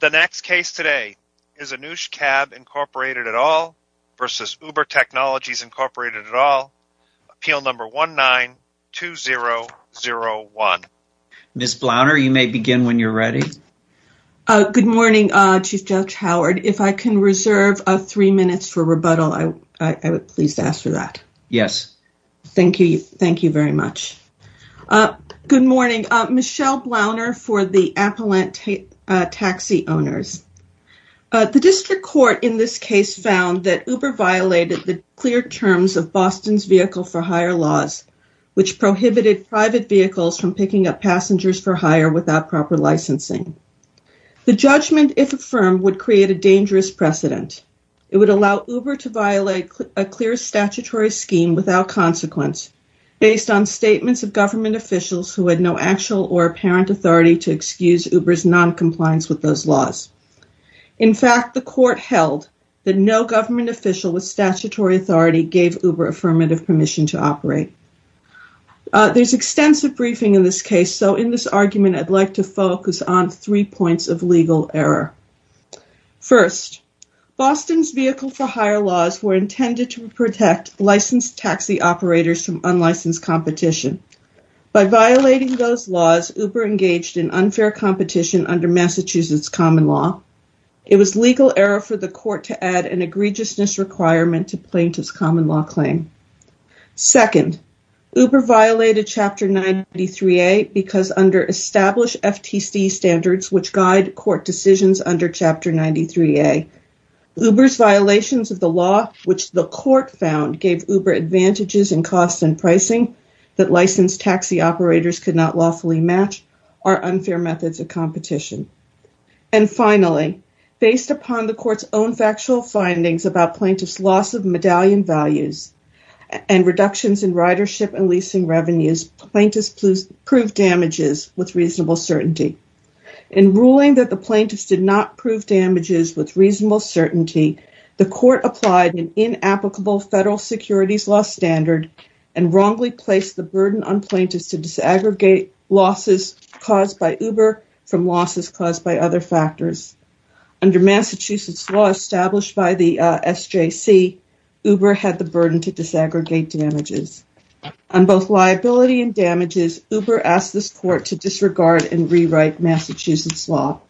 The next case today is Anoush Cab, Inc. v. Uber Technologies, Inc. Appeal Number 19-2001. Ms. Blauner, you may begin when you're ready. Good morning, Chief Judge Howard. If I can reserve three minutes for rebuttal, I would be pleased to ask for that. Yes. Thank you. Thank you very much. Good morning. Michelle Blauner for the Appellant Taxi Owners. The district court in this case found that Uber violated the clear terms of Boston's vehicle-for-hire laws, which prohibited private vehicles from picking up passengers-for-hire without proper licensing. The judgment, if affirmed, would create a dangerous precedent. It would allow Uber to violate a clear statutory scheme without consequence based on statements of government officials who had no actual or apparent authority to excuse Uber's noncompliance with those laws. In fact, the court held that no government official with statutory authority gave Uber affirmative permission to operate. There's extensive briefing in this case, so in this argument I'd like to focus on three points of legal error. First, Boston's vehicle-for-hire laws were intended to protect licensed taxi operators from unlicensed competition. By violating those laws, Uber engaged in unfair competition under Massachusetts common law. It was legal error for the court to add an egregiousness requirement to plaintiff's common law claim. Second, Uber violated Chapter 93A because under established FTC standards, which guide court decisions under Chapter 93A, Uber's violations of the law, which the court found gave Uber advantages in cost and pricing that licensed taxi operators could not lawfully match, are unfair methods of competition. And finally, based upon the court's own factual findings about plaintiff's loss of medallion values and reductions in ridership and In ruling that the plaintiffs did not prove damages with reasonable certainty, the court applied an inapplicable federal securities law standard and wrongly placed the burden on plaintiffs to disaggregate losses caused by Uber from losses caused by other factors. Under Massachusetts law established by the SJC, Uber had the burden to disaggregate damages. On both liability and damages, Uber asked this court to disregard and rewrite Massachusetts law.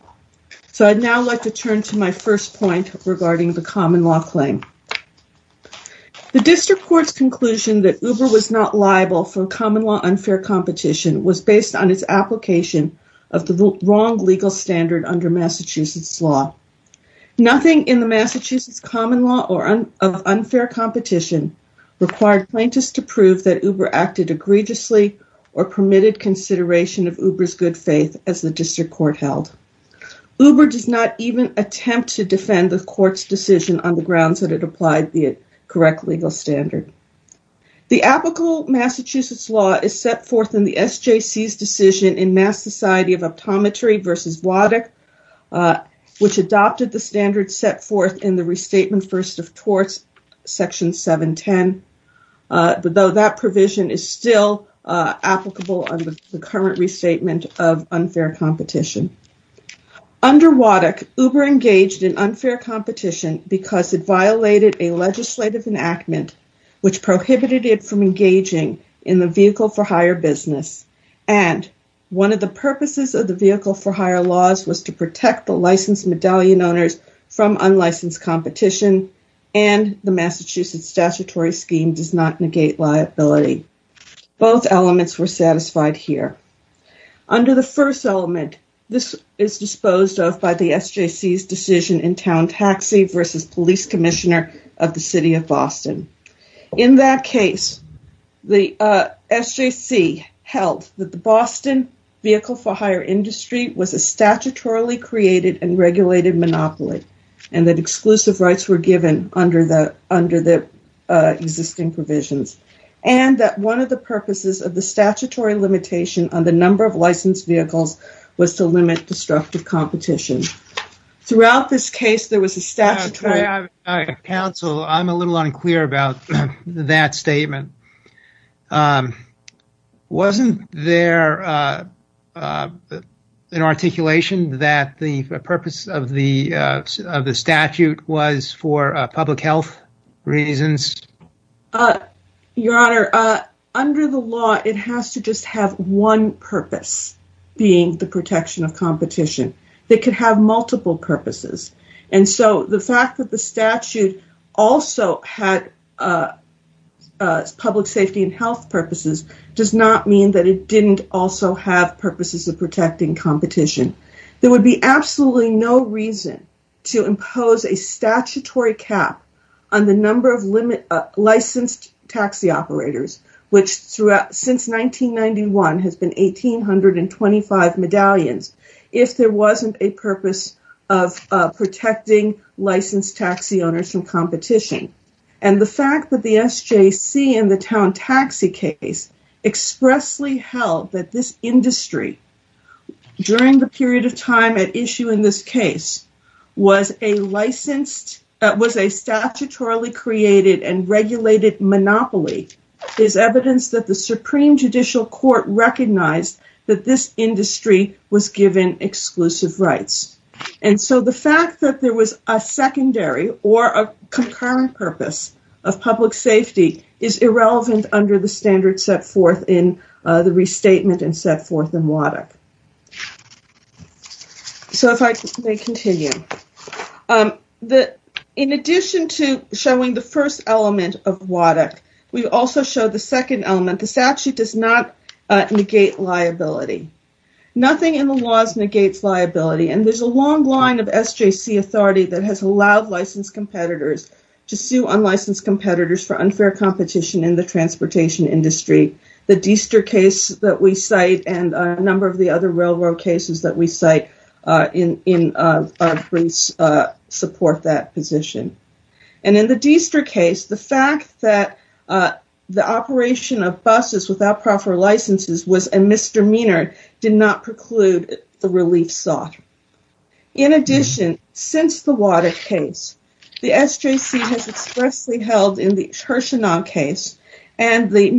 So I'd now like to turn to my first point regarding the common law claim. The district court's conclusion that Uber was not liable for common law unfair competition was based on its application of the wrong legal standard under Massachusetts law. Nothing in the Massachusetts common law of unfair competition required plaintiffs to prove that Uber acted egregiously or permitted consideration of Uber's good faith as the district court held. Uber does not even attempt to defend the court's decision on the grounds that it applied the correct legal standard. The applicable Massachusetts law is set forth in SJC's decision in Mass. Society of Optometry v. Waddock, which adopted the standard set forth in the Restatement First of Torts, Section 710, but though that provision is still applicable under the current restatement of unfair competition. Under Waddock, Uber engaged in unfair competition because it violated a legislative enactment which prohibited it from business and one of the purposes of the vehicle for hire laws was to protect the licensed medallion owners from unlicensed competition and the Massachusetts statutory scheme does not negate liability. Both elements were satisfied here. Under the first element, this is disposed of by the SJC's decision in Town Taxi v. Police Commissioner of the City of Boston. In that case, the SJC held that the Boston vehicle for hire industry was a statutorily created and regulated monopoly and that exclusive rights were given under the existing provisions and that one of the purposes of the statutory limitation on the number of licensed vehicles was to limit destructive competition. Throughout this case, there was a statutory... Counsel, I'm a little unclear about that statement. Wasn't there an articulation that the purpose of the statute was for public health reasons? Your Honor, under the law, it has to just have one purpose being the protection of that could have multiple purposes and so the fact that the statute also had public safety and health purposes does not mean that it didn't also have purposes of protecting competition. There would be absolutely no reason to impose a statutory cap on the number of a purpose of protecting licensed taxi owners from competition and the fact that the SJC in the Town Taxi case expressly held that this industry during the period of time at issue in this case was a licensed... That was a statutorily created and regulated monopoly is evidence that the Supreme Judicial Court recognized that this industry was given exclusive rights and so the fact that there was a secondary or a concurrent purpose of public safety is irrelevant under the standard set forth in the restatement and set forth in WADC. So, if I may continue. In addition to showing the first element of WADC, we also show the second element. The statute does not negate liability. Nothing in the laws negates liability and there's a long line of SJC authority that has allowed licensed competitors to sue unlicensed competitors for unfair competition in the transportation industry. The Deister case that we cite and a number of the other railroad cases that we cite in our briefs support that position. And in the Deister case, the fact that the operation of buses without proper licenses was a misdemeanor did not preclude the relief sought. In addition, since the WADC case, the SJC has expressly held in the Hirshenau case and the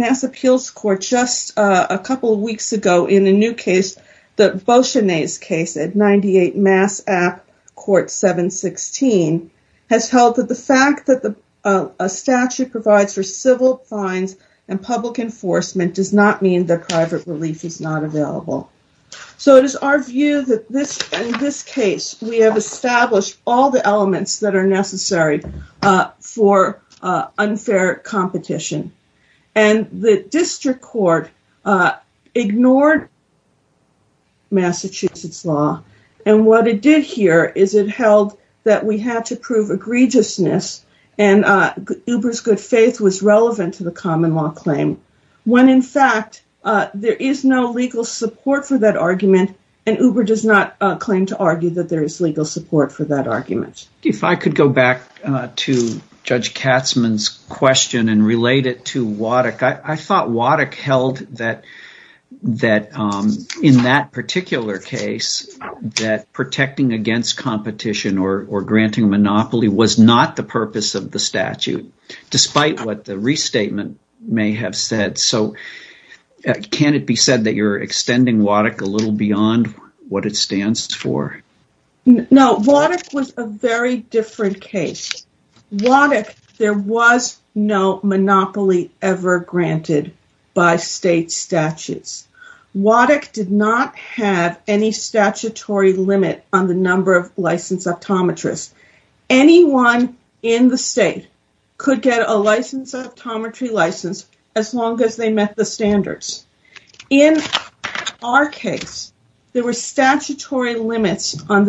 O'Shaughnessy case at 98 Mass. App. Court 716 has held that the fact that a statute provides for civil fines and public enforcement does not mean that private relief is not available. So, it is our view that in this case, we have established all the elements that are necessary for unfair competition. And the district court ignored Massachusetts law and what it did here is it held that we had to prove egregiousness and Uber's good faith was relevant to the common law claim when in fact there is no legal support for that argument and Uber does not claim to argue that there is legal support for that argument. If I could go back to Judge Katzmann's question and relate it to WADC, I thought WADC held that in that particular case, that protecting against competition or granting a monopoly was not the purpose of the statute despite what the restatement may have said. So, can it be said that you're extending WADC a little beyond what it stands for? No, WADC was a very different case. WADC, there was no monopoly ever granted by state statutes. WADC did not have any statutory limit on the number of licensed optometrists. Anyone in the state could get a licensed optometry license as long as they met the standards. In our case, there were the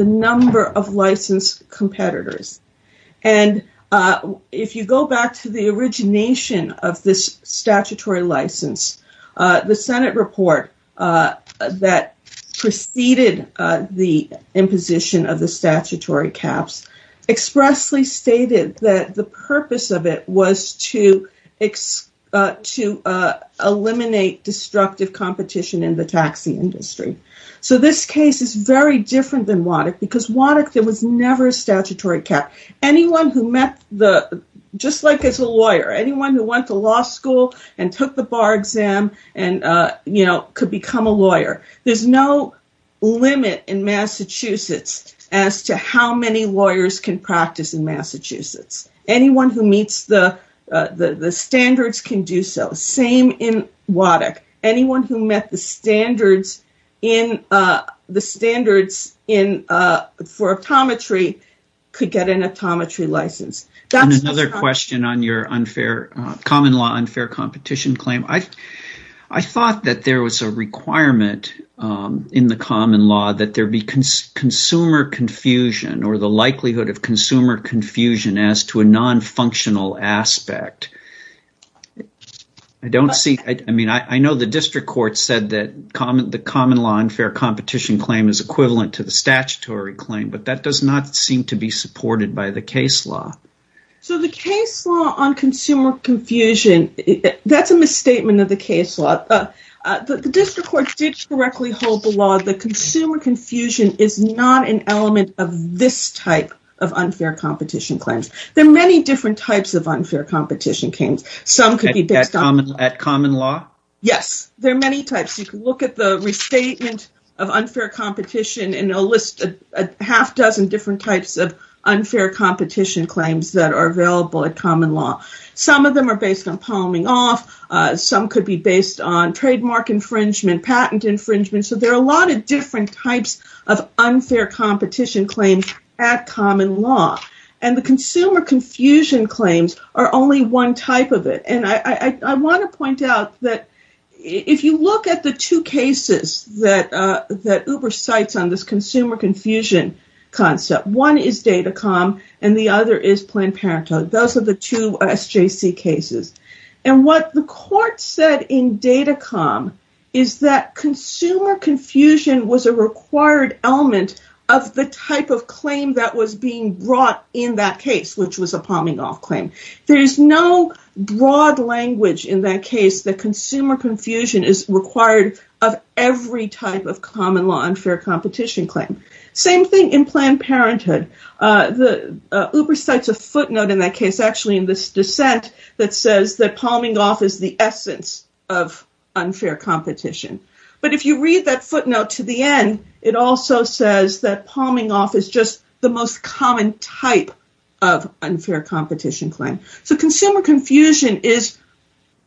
number of licensed competitors and if you go back to the origination of this statutory license, the Senate report that preceded the imposition of the statutory caps expressly stated that the purpose of it was to eliminate destructive competition in the taxi industry. So, this case is very different than WADC because WADC, there was never a statutory cap. Anyone who met the, just like as a lawyer, anyone who went to law school and took the bar exam and, you know, could become a lawyer. There's no limit in Massachusetts as to how many lawyers can practice in Massachusetts. Anyone who meets the standards can do so. Same in WADC. Anyone who met the standards for optometry could get an optometry license. And another question on your common law unfair competition claim. I thought that there was a requirement in the common law that there be consumer confusion or the likelihood of consumer The common law unfair competition claim is equivalent to the statutory claim, but that does not seem to be supported by the case law. So, the case law on consumer confusion, that's a misstatement of the case law. The district courts did correctly hold the law. The consumer confusion is not an element of this type of unfair competition claims. There are many different types of unfair competition claims. Some could be based on common law. Yes, there are many types. You can look at the restatement of unfair competition and a list of a half dozen different types of unfair competition claims that are available at common law. Some of them are based on palming off. Some could be based on trademark infringement, patent infringement. So, there are a lot of different types of unfair competition claims at common law. And the consumer confusion claims are only one type of it. And I want to point out that if you look at the two cases that Uber cites on this consumer confusion concept, one is Datacom and the other is Planned Parenthood. Those are the two SJC cases. And what the court said in Datacom is that consumer confusion was a required element of the type of claim that was being brought in that case, which was a palming off claim. There is no broad language in that case that consumer confusion is required of every type of common law unfair competition claim. Same thing in Planned Parenthood. Uber cites a footnote in this dissent that says that palming off is the essence of unfair competition. But if you read that footnote to the end, it also says that palming off is just the most common type of unfair competition claim. So, consumer confusion is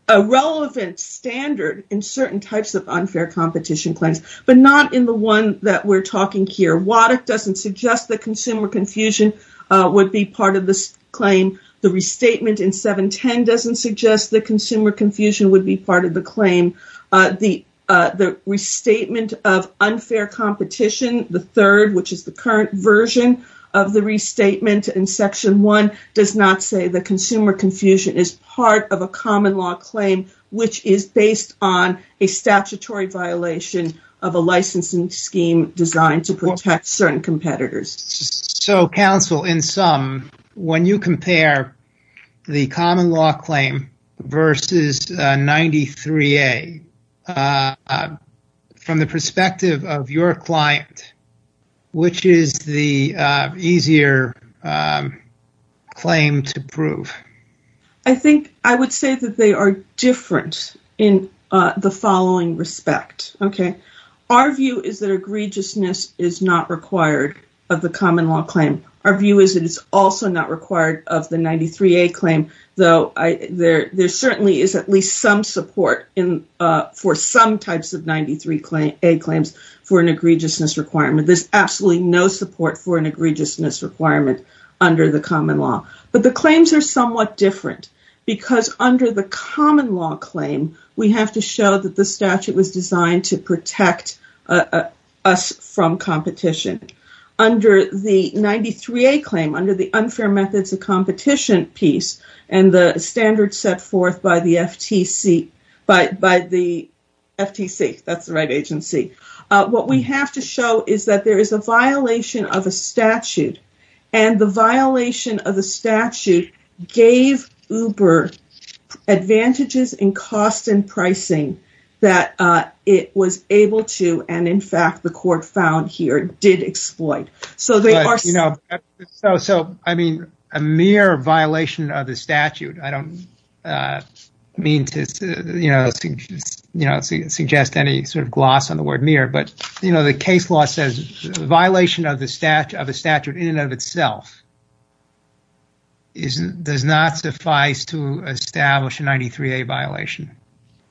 a relevant standard in certain types of unfair competition claims, but not in the one that we're talking here. Wattock doesn't suggest that consumer confusion is part of this claim. The restatement in 710 doesn't suggest that consumer confusion would be part of the claim. The restatement of unfair competition, the third, which is the current version of the restatement in section one, does not say that consumer confusion is part of a common law claim, which is based on a statutory violation of a licensing scheme designed to certain competitors. So, counsel, in sum, when you compare the common law claim versus 93A, from the perspective of your client, which is the easier claim to prove? I think I would say that they are different in the following respect. Our view is that required of the common law claim. Our view is that it's also not required of the 93A claim, though there certainly is at least some support for some types of 93A claims for an egregiousness requirement. There's absolutely no support for an egregiousness requirement under the common law. But the claims are somewhat different because under the common law claim, we have to show that the statute was designed to protect us from competition. Under the 93A claim, under the unfair methods of competition piece and the standards set forth by the FTC, that's the right agency, what we have to show is that there is a violation of a statute and the violation of the that it was able to, and in fact, the court found here, did exploit. So, I mean, a mere violation of the statute, I don't mean to suggest any sort of gloss on the word mere, but the case law says violation of a statute in and of itself does not suffice to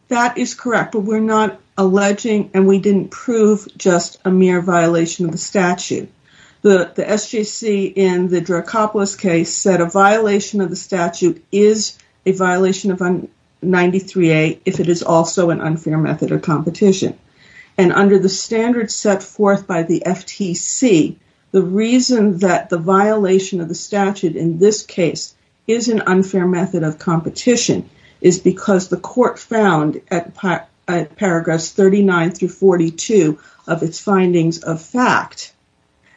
we're not alleging and we didn't prove just a mere violation of the statute. The SJC in the Dracopoulos case said a violation of the statute is a violation of 93A if it is also an unfair method of competition. And under the standards set forth by the FTC, the reason that the violation of the statute in this case is an unfair method of competition is because the court found at paragraphs 39 through 42 of its findings of fact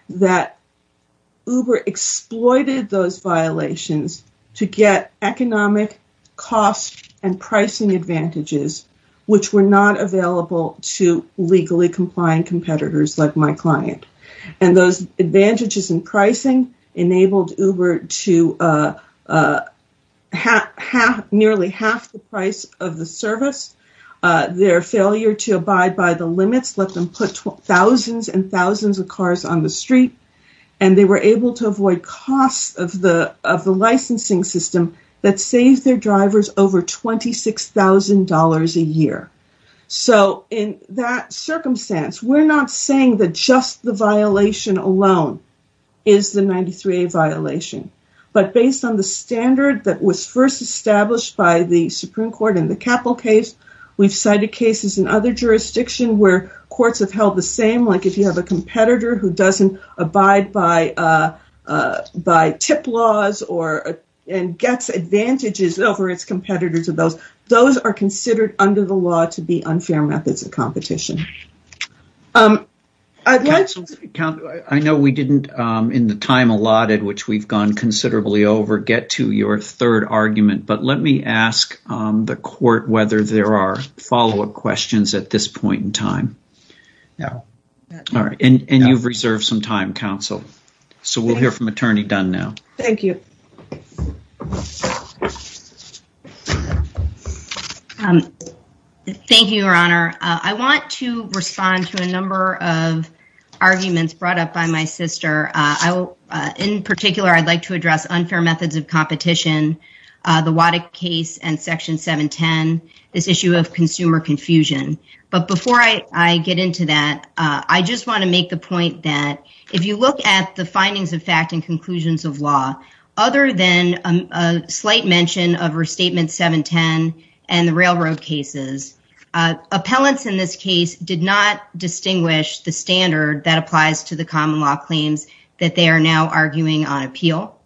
that Uber exploited those violations to get economic costs and pricing advantages which were not available to legally complying competitors like my client. And those advantages in pricing enabled Uber to nearly half the price of the service. Their failure to abide by the limits let them put thousands and thousands of cars on the street and they were able to avoid costs of the licensing system that saved their drivers over $26,000 a year. So in that circumstance, we're not saying that just the violation alone is the 93A violation. But based on the standard that was first established by the Supreme Court in the Capple case, we've cited cases in other jurisdictions where courts have held the same like if you have a competitor who doesn't abide by tip laws or gets advantages over its competitors of those, those are considered under the law to be unfair methods of competition. I know we didn't in the time allotted which we've gone considerably over get to your third argument, but let me ask the court whether there are follow-up questions at this point in time. No. All right. And you've reserved some time, counsel. So we'll hear from you. Thank you, Your Honor. I want to respond to a number of arguments brought up by my sister. In particular, I'd like to address unfair methods of competition, the Waddick case and Section 710, this issue of consumer confusion. But before I get into that, I just want to make the point that if you look at the findings of fact and conclusions of law, other than a slight mention of Restatement 710 and the railroad cases, appellants in this case did not distinguish the standard that applies to the common law claims that they are now arguing on appeal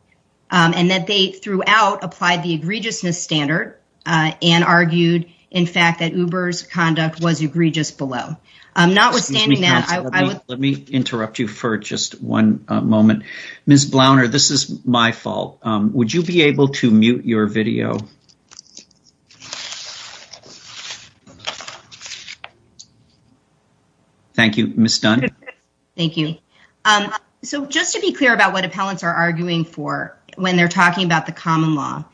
and that they throughout applied the egregiousness standard and argued, in fact, that Uber's conduct was unlawful. Ms. Blauner, this is my fault. Would you be able to mute your video? Thank you. Ms. Dunn. Thank you. So just to be clear about what appellants are arguing for when they're talking about the common law,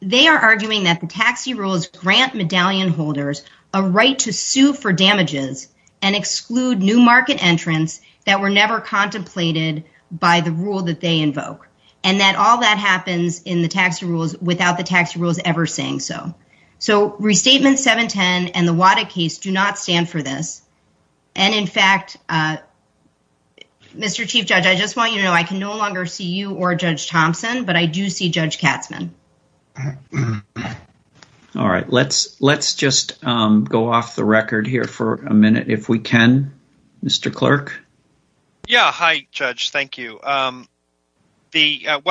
they are arguing that the taxi rules grant medallion holders a right to sue for damages and exclude new market entrants that were never contemplated by the rule that they invoke. And that all that happens in the taxi rules without the taxi rules ever saying so. So Restatement 710 and the Waddick case do not stand for this. And in fact, Mr. Chief Judge, I just want you to know I can no longer see you or Judge Thompson, but I do see Judge Katzman. All right. Let's just go off the record here for a minute if we can. Mr. Clerk. Yeah. Hi, Judge. Thank you. What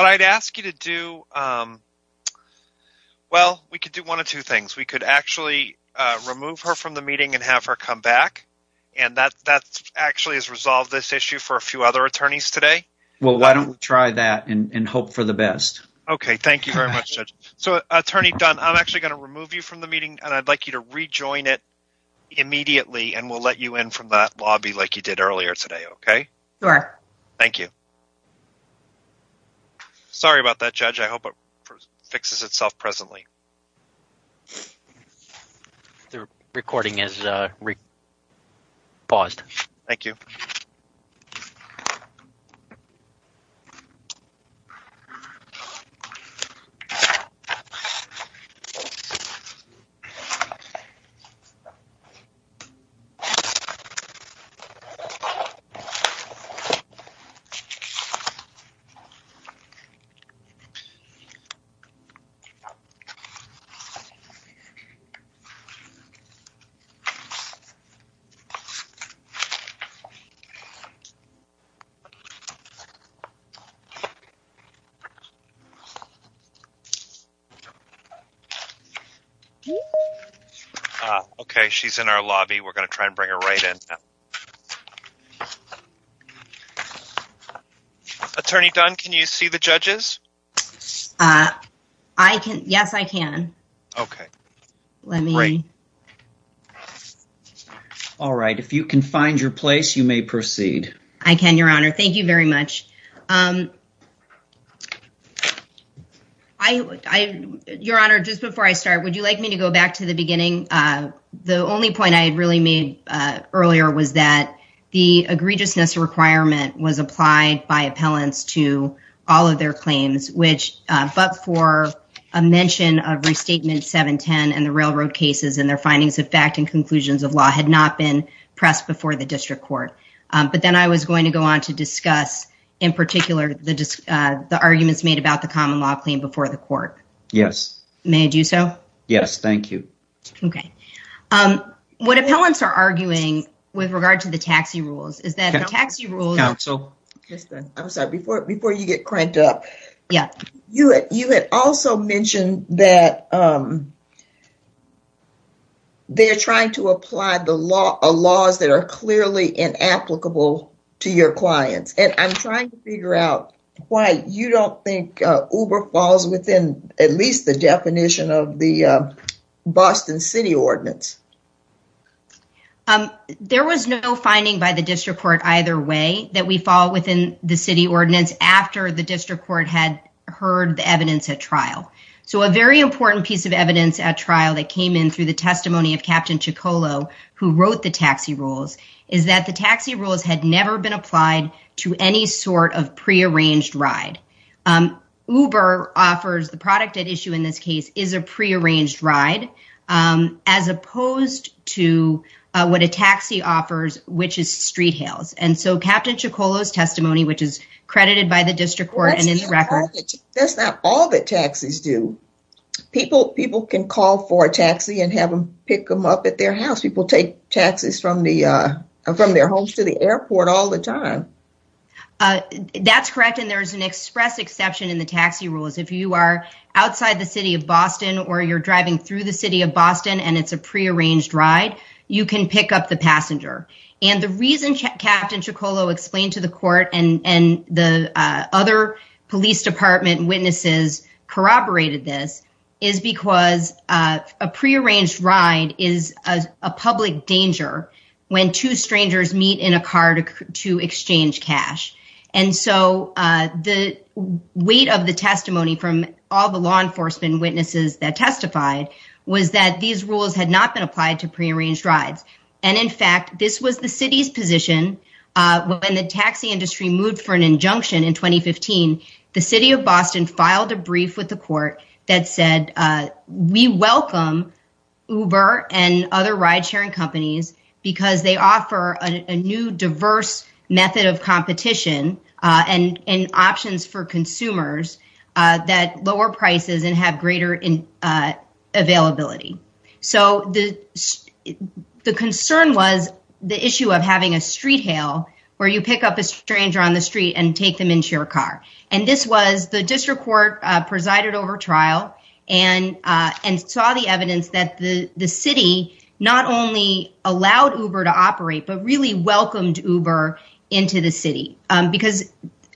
I'd ask you to do, well, we could do one of two things. We could actually remove her from the meeting and have her come back. And that actually has resolved this issue for a few other attorneys today. Well, why don't we try that and hope for the best? Okay. Thank you very much, Judge. So, Attorney Dunn, I'm actually going to remove you from the meeting and I'd like you to rejoin it immediately and we'll let you in from that lobby like you did earlier today. Okay. All right. Thank you. Sorry about that, Judge. I hope it fixes itself presently. The recording is paused. Thank you. Okay. She's in our lobby. We're going to try and bring her right in. Attorney Dunn, can you see the judges? Yes, I can. Okay. All right. If you can find your place, you may proceed. I can, Your Honor. Thank you very much. Your Honor, just before I start, would you like me to go back to the beginning? The only point I had really made earlier was that the egregiousness requirement was applied by appellants to all of their claims, but for a mention of Restatement 710 and the railroad cases and their findings of fact and conclusions of law had not been pressed before the district court. But then I was going to go on to discuss in particular the arguments made about the common law claim before the court. Yes. May I do so? Yes. Thank you. Okay. What appellants are arguing with regard to the taxi rules is that the taxi rules... I'm sorry. Before you get cranked up, you had also mentioned that they're trying to apply the laws that are clearly inapplicable to your clients. And I'm trying to figure out why you don't think Uber falls within at least the definition of the Boston City Ordinance. There was no finding by the district court either way that we fall within the City Ordinance after the district court had heard the evidence at trial. So a very important piece of evidence at trial that came in through the testimony of Captain Ciccolo, who wrote the taxi rules, is that the taxi rules had never been applied to any sort of prearranged ride. Uber offers... The product at issue in this case is a prearranged ride as opposed to what a taxi offers, which is street hails. And so Captain Ciccolo's testimony, which is credited by the district court and in the record... That's not all that taxis do. People can call for a taxi and have them pick them up at their house. People take taxis from their homes to the airport all the time. That's correct. And there's an express exception in the taxi rules. If you are outside the city of Boston or you're driving through the city of Boston and it's a prearranged ride, you can pick up the passenger. And the reason Captain Ciccolo explained to the court and the other police department witnesses corroborated this is because a prearranged ride is a public danger when two strangers meet in a car to exchange cash. And so the weight of the testimony from all the law enforcement witnesses that testified was that these rules had not been applied to prearranged rides. And in fact, this was the city's position when the taxi industry moved for an injunction in 2015, the city of Boston filed a brief with the court that said, we welcome Uber and other ride sharing companies because they offer a new diverse method of competition and options for consumers that lower prices and have greater availability. So the concern was the issue of having a street hail where you pick up a stranger on the street and take them into your car. And this was the district court presided over trial and saw the evidence that the city not only allowed Uber to operate, but really welcomed Uber into the city. Because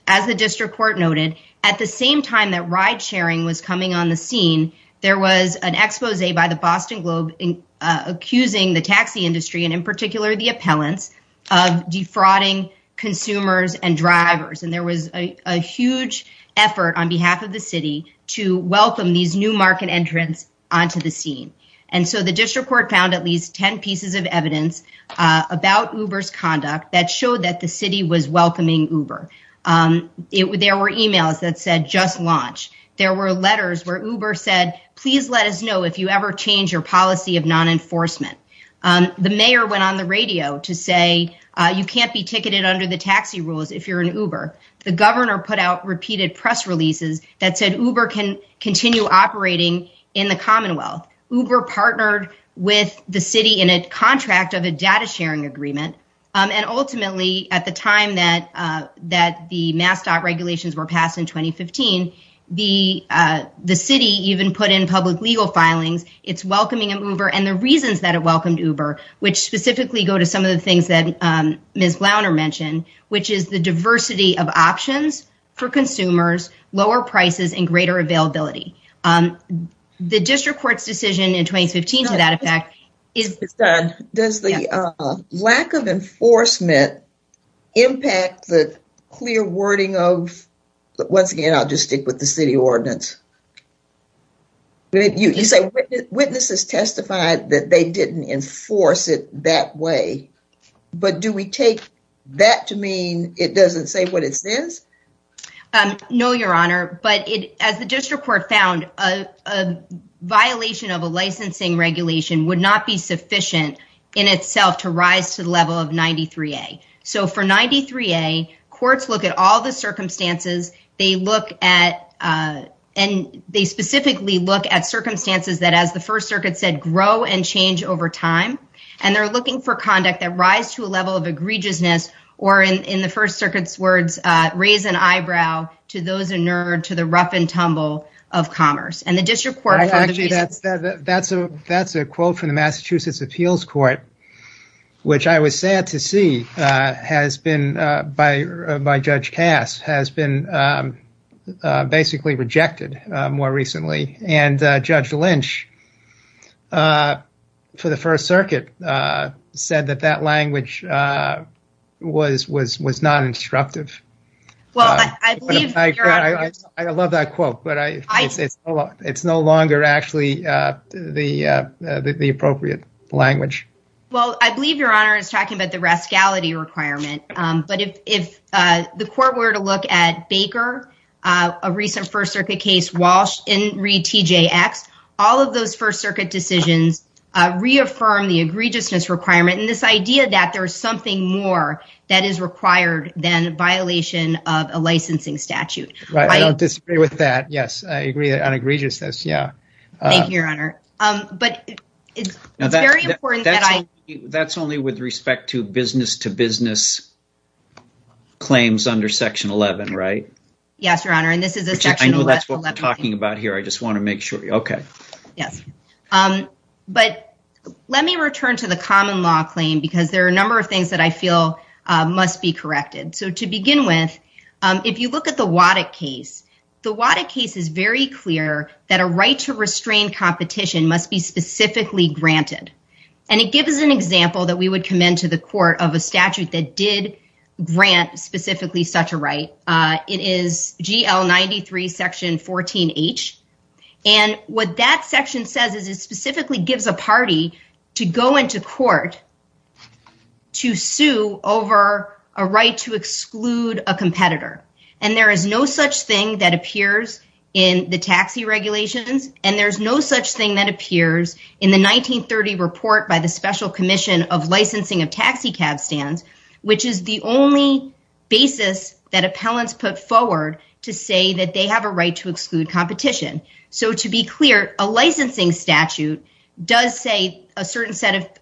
as the district court noted, at the same time that ride sharing was coming on the scene, there was an expose by the Boston Globe accusing the taxi industry and in particular the appellants of defrauding consumers and drivers. And there was a huge effort on behalf of the city to welcome these new market entrants onto the scene. And so the district court found at least 10 pieces of evidence about Uber's conduct that showed that the city was welcoming Uber. There were emails that said just launch. There were letters where Uber said, please let us know if you ever change your policy of non-enforcement. The mayor went on the radio to say, you can't be ticketed under the taxi rules if you're an Uber. The governor put out repeated press releases that said Uber can continue operating in the Commonwealth. Uber partnered with the city in a contract of a data sharing agreement. And ultimately at the time that the MassDOT regulations were passed in 2015, the city even put in public legal filings. It's welcoming Uber and the reasons that it welcomed Uber, which specifically go to some of the things that Ms. Glauner mentioned, which is the diversity of options for consumers, lower prices and greater availability. The district court's decision in lack of enforcement impact the clear wording of, once again, I'll just stick with the city ordinance. You say witnesses testified that they didn't enforce it that way, but do we take that to mean it doesn't say what it says? No, your honor. But as the district court found, a violation of a licensing regulation would not be sufficient in itself to rise to the level of 93A. So for 93A, courts look at all the circumstances. They specifically look at circumstances that, as the First Circuit said, grow and change over time. And they're looking for conduct that rise to a level of egregiousness or in the First Circuit's words, raise an eyebrow to those inured to the rough and tumble of commerce. That's a quote from the Massachusetts Appeals Court, which I was sad to see by Judge Cass has been basically rejected more recently. And Judge Lynch for the First Circuit said that that language was not instructive. Well, I love that quote, but it's no longer actually the appropriate language. Well, I believe your honor is talking about the rascality requirement. But if the court were to look at Baker, a recent First Circuit case, Walsh, Inree, TJX, all of those First Circuit decisions reaffirm the egregiousness requirement. And this idea that there's something more that is required than violation of a licensing statute. Right. I don't disagree with that. Yes, I agree on egregiousness. Yeah. Thank you, your honor. But it's very important that I... That's only with respect to business to business claims under section 11, right? Yes, your honor. And this is a section 11... I know that's what we're talking about here. I just want to make sure. Okay. Yes. But let me return to the common law claim, because there are a number of things that I feel must be corrected. So to begin with, if you look at the Waddick case, the Waddick case is very clear that a right to restrain competition must be specifically granted. And it gives us an example that we would commend to the court of a statute that did grant specifically such a right. It is GL 93, section 14H. And what that section says is it specifically gives a party to go into court to sue over a right to exclude a competitor. And there is no such thing that appears in the taxi regulations. And there's no such thing that appears in the 1930 report by the Special Commission of Licensing of Taxicab Stands, which is the only basis that appellants put forward to say that they have a right to exclude competition. So to be clear, a licensing statute does say a certain set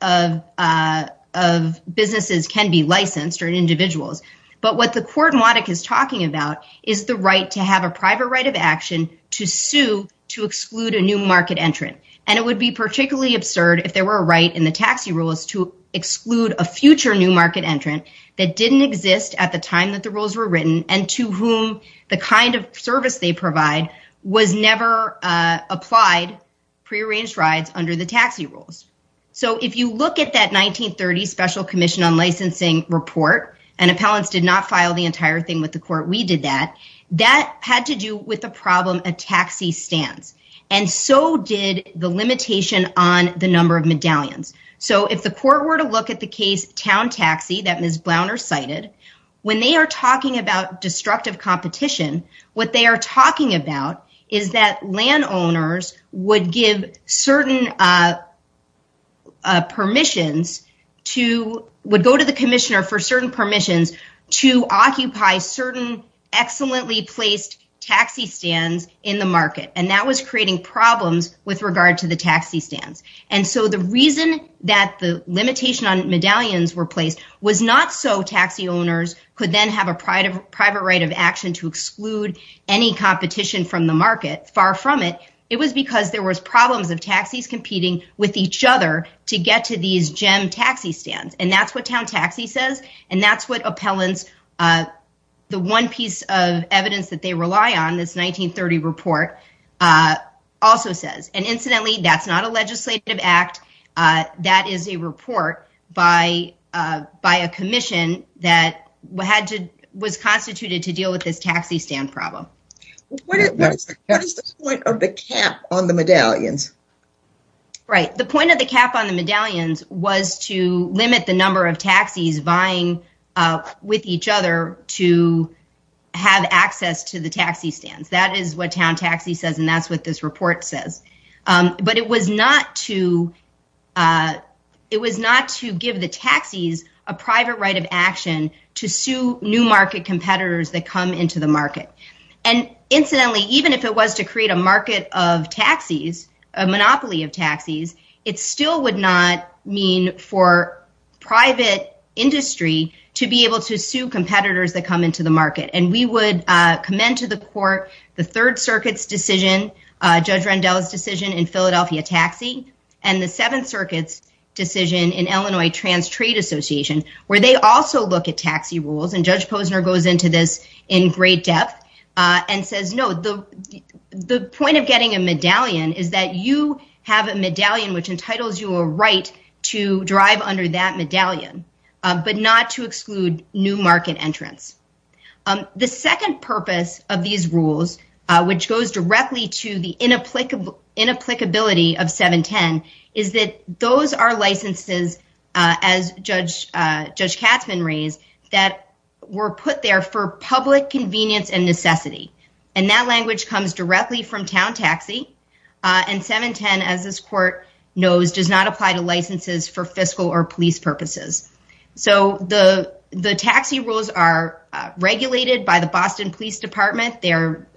of businesses can be licensed or individuals. But what the court in Waddick is talking about is the right to have a private right of action to sue to exclude a new market entrant. And it would be particularly absurd if there were a right in the taxi rules to exclude a future new market entrant that didn't exist at the time that the rules were written and to whom the kind of service they provide was never applied, prearranged rides under the taxi rules. So if you look at that 1930 Special Commission on Licensing report, and appellants did not file the entire thing with the court, we did that. That had to do with the problem of taxi stands. And so did the limitation on the number of medallions. So if the court were to look at the case Town Taxi that Ms. Blauner cited, when they are talking about destructive competition, what they are talking about is that landowners would give certain permissions to, would go to the commissioner for certain permissions to occupy certain excellently placed taxi stands in the market. And that was creating problems with regard to the taxi stands. And so the reason that the limitation on medallions were placed was not so taxi owners could then have a private right of action to exclude any competition from the market, far from it. It was because there was problems of taxis competing with each other to get to these gem taxi stands. And that's what Town Taxi says. And that's what also says. And incidentally, that's not a legislative act. That is a report by a commission that was constituted to deal with this taxi stand problem. What is the point of the cap on the medallions? Right. The point of the cap on the medallions was to limit the number of taxis vying with each other to have access to the taxi stands. That is what Town Taxi says. And that's what this report says. But it was not to it was not to give the taxis a private right of action to sue new market competitors that come into the market. And incidentally, even if it was to create a market of taxis, a monopoly of taxis, it still would not mean for private industry to be able to sue competitors that come into the market. And we would commend to the court the Third Circuit's decision, Judge Rendell's decision in Philadelphia Taxi and the Seventh Circuit's decision in Illinois Trans Trade Association, where they also look at taxi rules. And Judge Posner goes into this in great depth and says, no, the the point of getting a medallion is that you have a medallion which entitles you a right to drive under that medallion, but not to exclude new market entrants. The second purpose of these rules, which goes directly to the inapplicable inapplicability of 710, is that those are licenses, as Judge Judge Katzman raised, that were put there for public convenience and necessity. And that language comes directly from Town Taxi. And 710, as this court knows, does not apply to licenses for fiscal or police purposes. So the the taxi rules are regulated by the Boston Police Department. They're,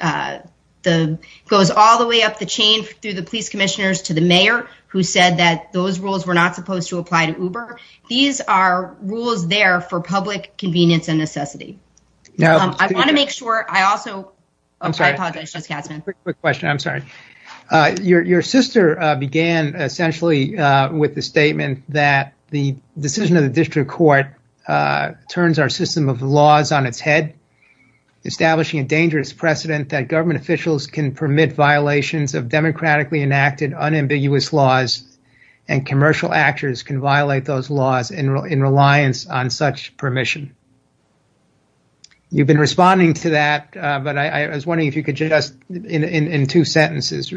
the goes all the way up the chain through the police commissioners to the mayor who said that those rules were not supposed to apply to Uber. These are rules there for public convenience and necessity. I want to make sure I also apologize, Judge Katzman. Quick question. I'm sorry. Your sister began essentially with the statement that the decision of the district court turns our system of laws on its head, establishing a dangerous precedent that government officials can permit violations of democratically enacted unambiguous laws and commercial actors can violate those laws in reliance on such permission. You've been responding to that, but I was wondering if you could just in two sentences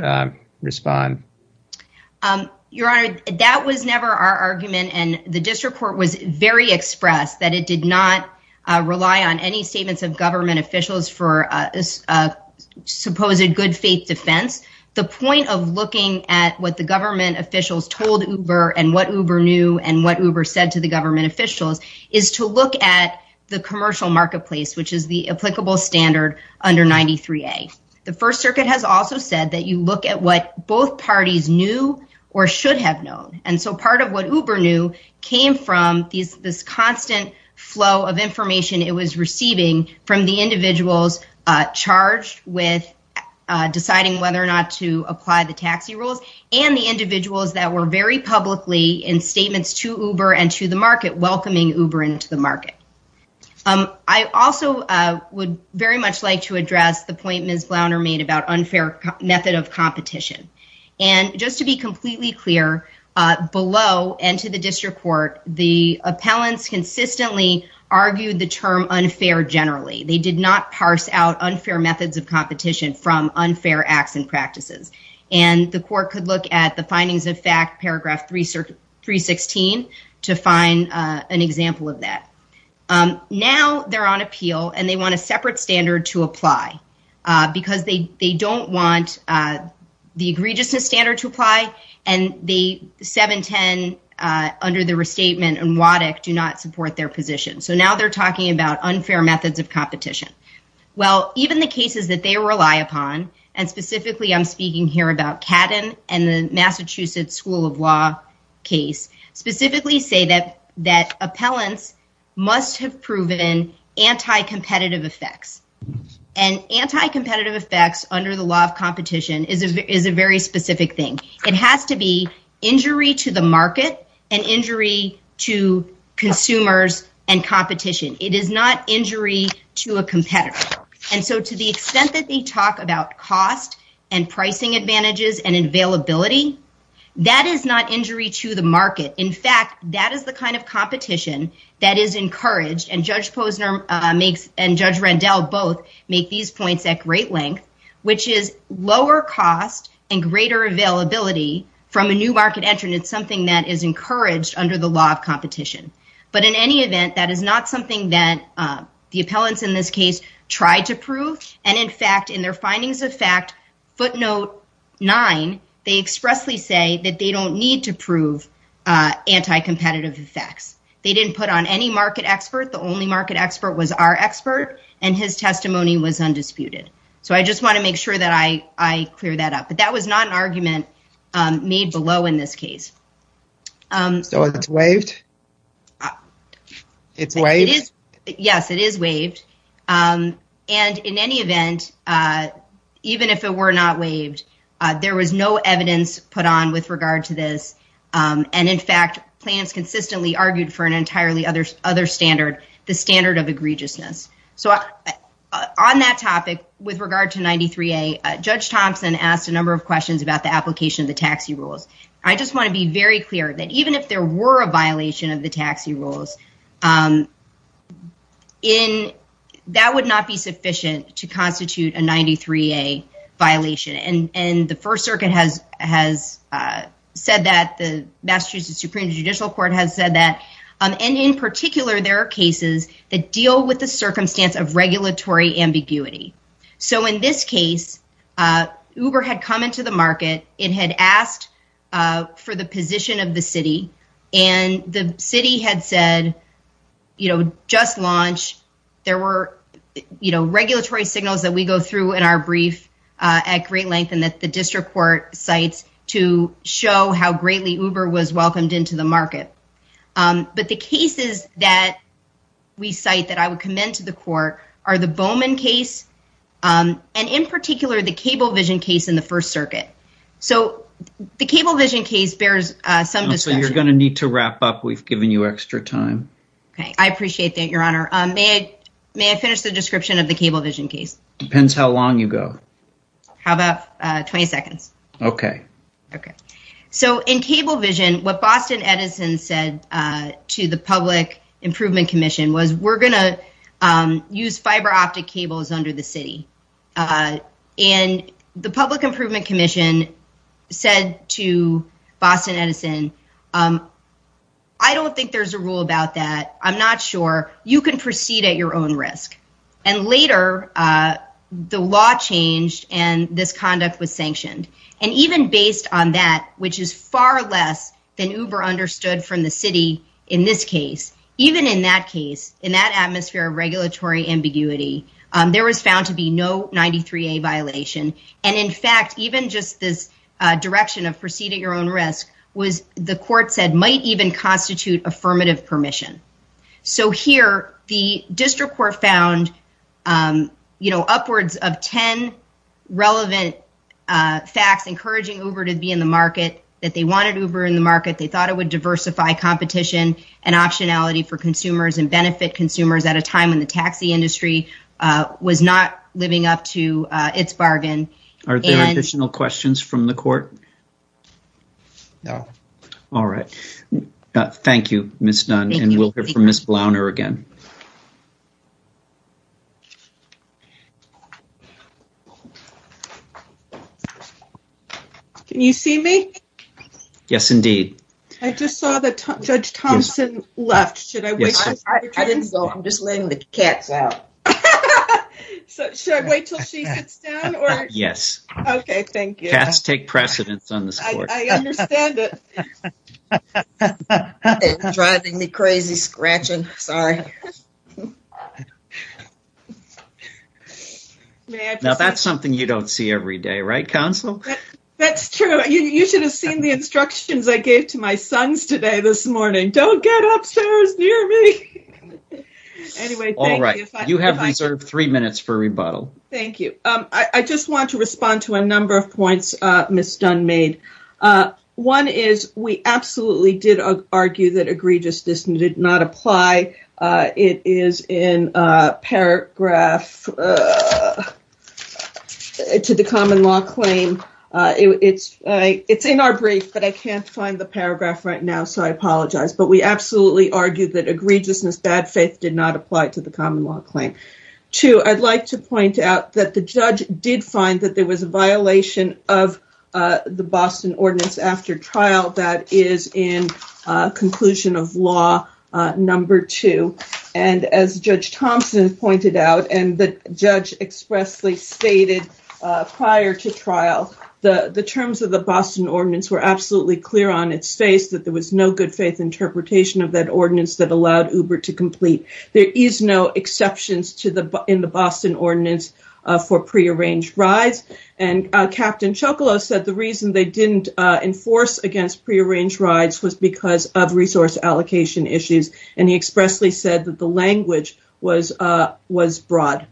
respond. Your Honor, that was never our argument. And the district court was very expressed that it did not rely on any statements of government officials for a supposed good faith defense. The point of looking at what the government officials told Uber and what Uber knew and what Uber said to government officials is to look at the commercial marketplace, which is the applicable standard under 93A. The first circuit has also said that you look at what both parties knew or should have known. And so part of what Uber knew came from this constant flow of information it was receiving from the individuals charged with deciding whether or not to apply the taxi rules and the individuals that were very publicly in statements to Uber and to the market welcoming Uber into the market. I also would very much like to address the point Ms. Glauner made about unfair method of competition. And just to be completely clear, below and to the district court, the appellants consistently argued the term unfair generally. They did not parse out unfair methods of competition from unfair acts and practices. And the court could look at the findings of fact, paragraph 316, to find an example of that. Now they're on appeal and they want a separate standard to apply because they don't want the egregiousness standard to apply and the 710 under the restatement and WADEC do not support their position. So now they're talking about rely upon, and specifically I'm speaking here about Catton and the Massachusetts School of Law case, specifically say that appellants must have proven anti-competitive effects. And anti-competitive effects under the law of competition is a very specific thing. It has to be injury to the market and injury to consumers and competition. It is not injury to a competitor. And so to the extent that they talk about cost and pricing advantages and availability, that is not injury to the market. In fact, that is the kind of competition that is encouraged, and Judge Posner and Judge Rendell both make these points at great length, which is lower cost and greater availability from a new market entrant. It's something that is encouraged under the law of competition. But in any event, that is not something that the appellants in this case tried to prove. And in fact, in their findings of fact, footnote nine, they expressly say that they don't need to prove anti-competitive effects. They didn't put on any market expert. The only market expert was our expert and his testimony was undisputed. So I just want to make sure that I clear that up. But that was not an argument made below in this case. So it's waived? It's waived? Yes, it is waived. And in any event, even if it were not waived, there was no evidence put on with regard to this. And in fact, plaintiffs consistently argued for an entirely other standard, the standard of egregiousness. So on that topic, with regard to 93A, Judge Thompson asked a number of questions about application of the taxi rules. I just want to be very clear that even if there were a violation of the taxi rules, that would not be sufficient to constitute a 93A violation. And the First Circuit has said that, the Massachusetts Supreme Judicial Court has said that. And in particular, there are cases that deal with the circumstance of regulatory ambiguity. So in this case, Uber had come into the market, it had asked for the position of the city. And the city had said, you know, just launch, there were, you know, regulatory signals that we go through in our brief at great length and that the district court cites to show how greatly Uber was welcomed into the market. But the cases that we cite that I would commend to the court are the Bowman case. And in particular, the Cablevision case in the First Circuit. So the Cablevision case bears some discussion. So you're going to need to wrap up, we've given you extra time. Okay, I appreciate that, Your Honor. May I finish the description of the Cablevision case? Depends how long you go. How about 20 seconds? Okay. Okay. So in Cablevision, what Boston Edison said to the Public Improvement Commission was, we're going to use fiber optic cables under the city. And the Public Improvement Commission said to Boston Edison, I don't think there's a rule about that. I'm not sure you can proceed at your own risk. And later, the law changed and this conduct was sanctioned. And even based on that, which is far less than Uber understood from the city in this case, even in that case, in that atmosphere of regulatory ambiguity, there was found to be no 93A violation. And in fact, even just this direction of proceeding your own risk was the court said might even constitute affirmative permission. So here, the district court found, you know, upwards of 10 relevant facts encouraging Uber to be in the market, that they wanted Uber in the market. They thought it would diversify competition and optionality for consumers and benefit consumers at a time when the taxi industry was not living up to its bargain. Are there additional questions from the court? No. All right. Thank you, Ms. Dunn. And we'll hear from Ms. Blauner again. Can you see me? Yes, indeed. I just saw that Judge Thompson left. Should I wait? I didn't go. I'm just letting the cats out. Should I wait till she sits down or? Yes. Okay. Thank you. Cats take precedence on this court. I understand it. Now, that's something you don't see every day, right, counsel? That's true. You should have seen the instructions I gave to my sons today, this morning. Don't get upstairs near me. Anyway. All right. You have reserved three minutes for rebuttal. Thank you. I just want to respond to a number of points Ms. Dunn made. One is we absolutely did argue that egregiousness did not apply. It is in paragraph to the common law claim. It's in our brief, but I can't find the paragraph right now, so I apologize. But we absolutely argued that egregiousness, bad faith did not apply to the common law claim. Two, I'd like to point out that the judge did find that there was a violation of the Boston ordinance after trial that is in conclusion of law number two. As Judge Thompson pointed out, and the judge expressly stated prior to trial, the terms of the Boston ordinance were absolutely clear on its face that there was no good faith interpretation of that ordinance that allowed Uber to complete. There is no exceptions in the reason they didn't enforce against prearranged rides was because of resource allocation issues, and he expressly said that the language was broad.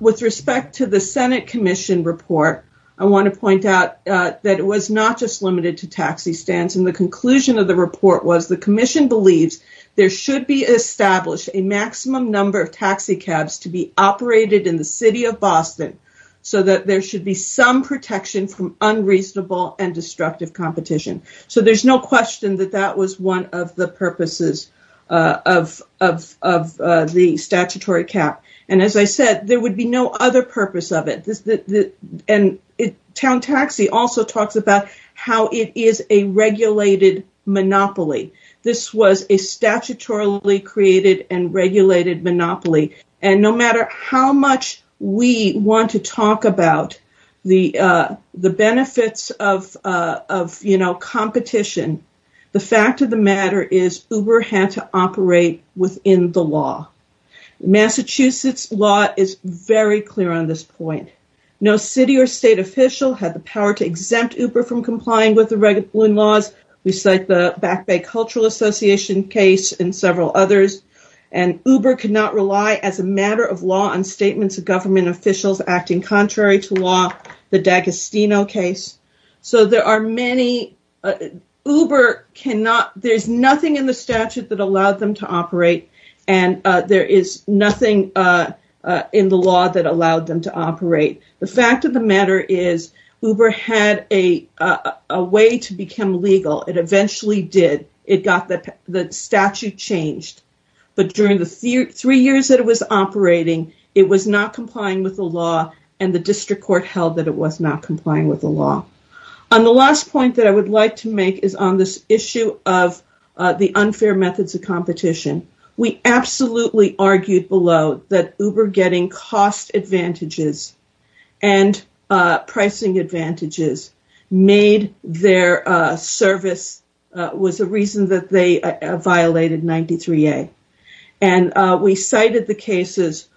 With respect to the Senate commission report, I want to point out that it was not just limited to taxi stands. The conclusion of the report was the commission believes there should be established a maximum number of taxi cabs to be reasonable and destructive competition. There's no question that that was one of the purposes of the statutory cap. As I said, there would be no other purpose of it. Town Taxi also talks about how it is a regulated monopoly. This was a statutorily created and of competition. The fact of the matter is Uber had to operate within the law. Massachusetts law is very clear on this point. No city or state official had the power to exempt Uber from complying with the regulation laws. We cite the Back Bay Cultural Association case and several others, and Uber could not rely as a matter of law on statements of government officials acting contrary to law, the D'Agostino case. There's nothing in the statute that allowed them to operate, and there is nothing in the law that allowed them to operate. The fact of the matter is Uber had a way to become legal. It eventually did. The statute changed, but during the three years that it was operating, it was not complying with the law, and the district court held that it was not complying with the law. On the last point that I would like to make is on this issue of the unfair methods of competition. We absolutely argued below that Uber getting cost advantages and pricing advantages made their service was a reason that they violated 93A. We cited the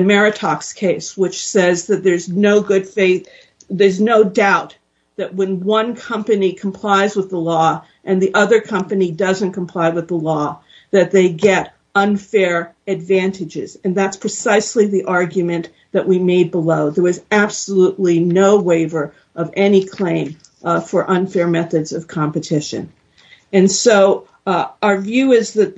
Meritox case, which says that there's no doubt that when one company complies with the law and the other company doesn't comply with the law, that they get unfair advantages. That's precisely the argument that we made below. There was absolutely no waiver of any claim for unfair methods of competition. Our view is that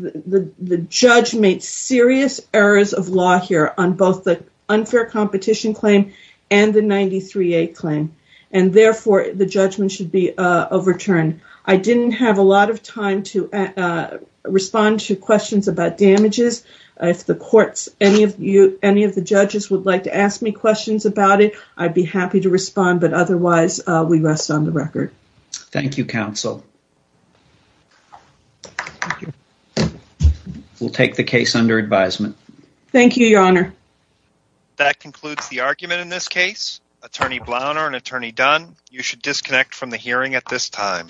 the judge made serious errors of law here on both the unfair competition claim and the 93A claim, and therefore, the judgment should be overturned. I didn't have a lot of time to respond to questions about damages. If any of the judges would like to ask me questions about it, I'd be happy to respond, but otherwise, we rest on the record. Thank you, counsel. We'll take the case under advisement. Thank you, your honor. That concludes the argument in this case. Attorney Blauner and Attorney Dunn, you should disconnect from the hearing at this time.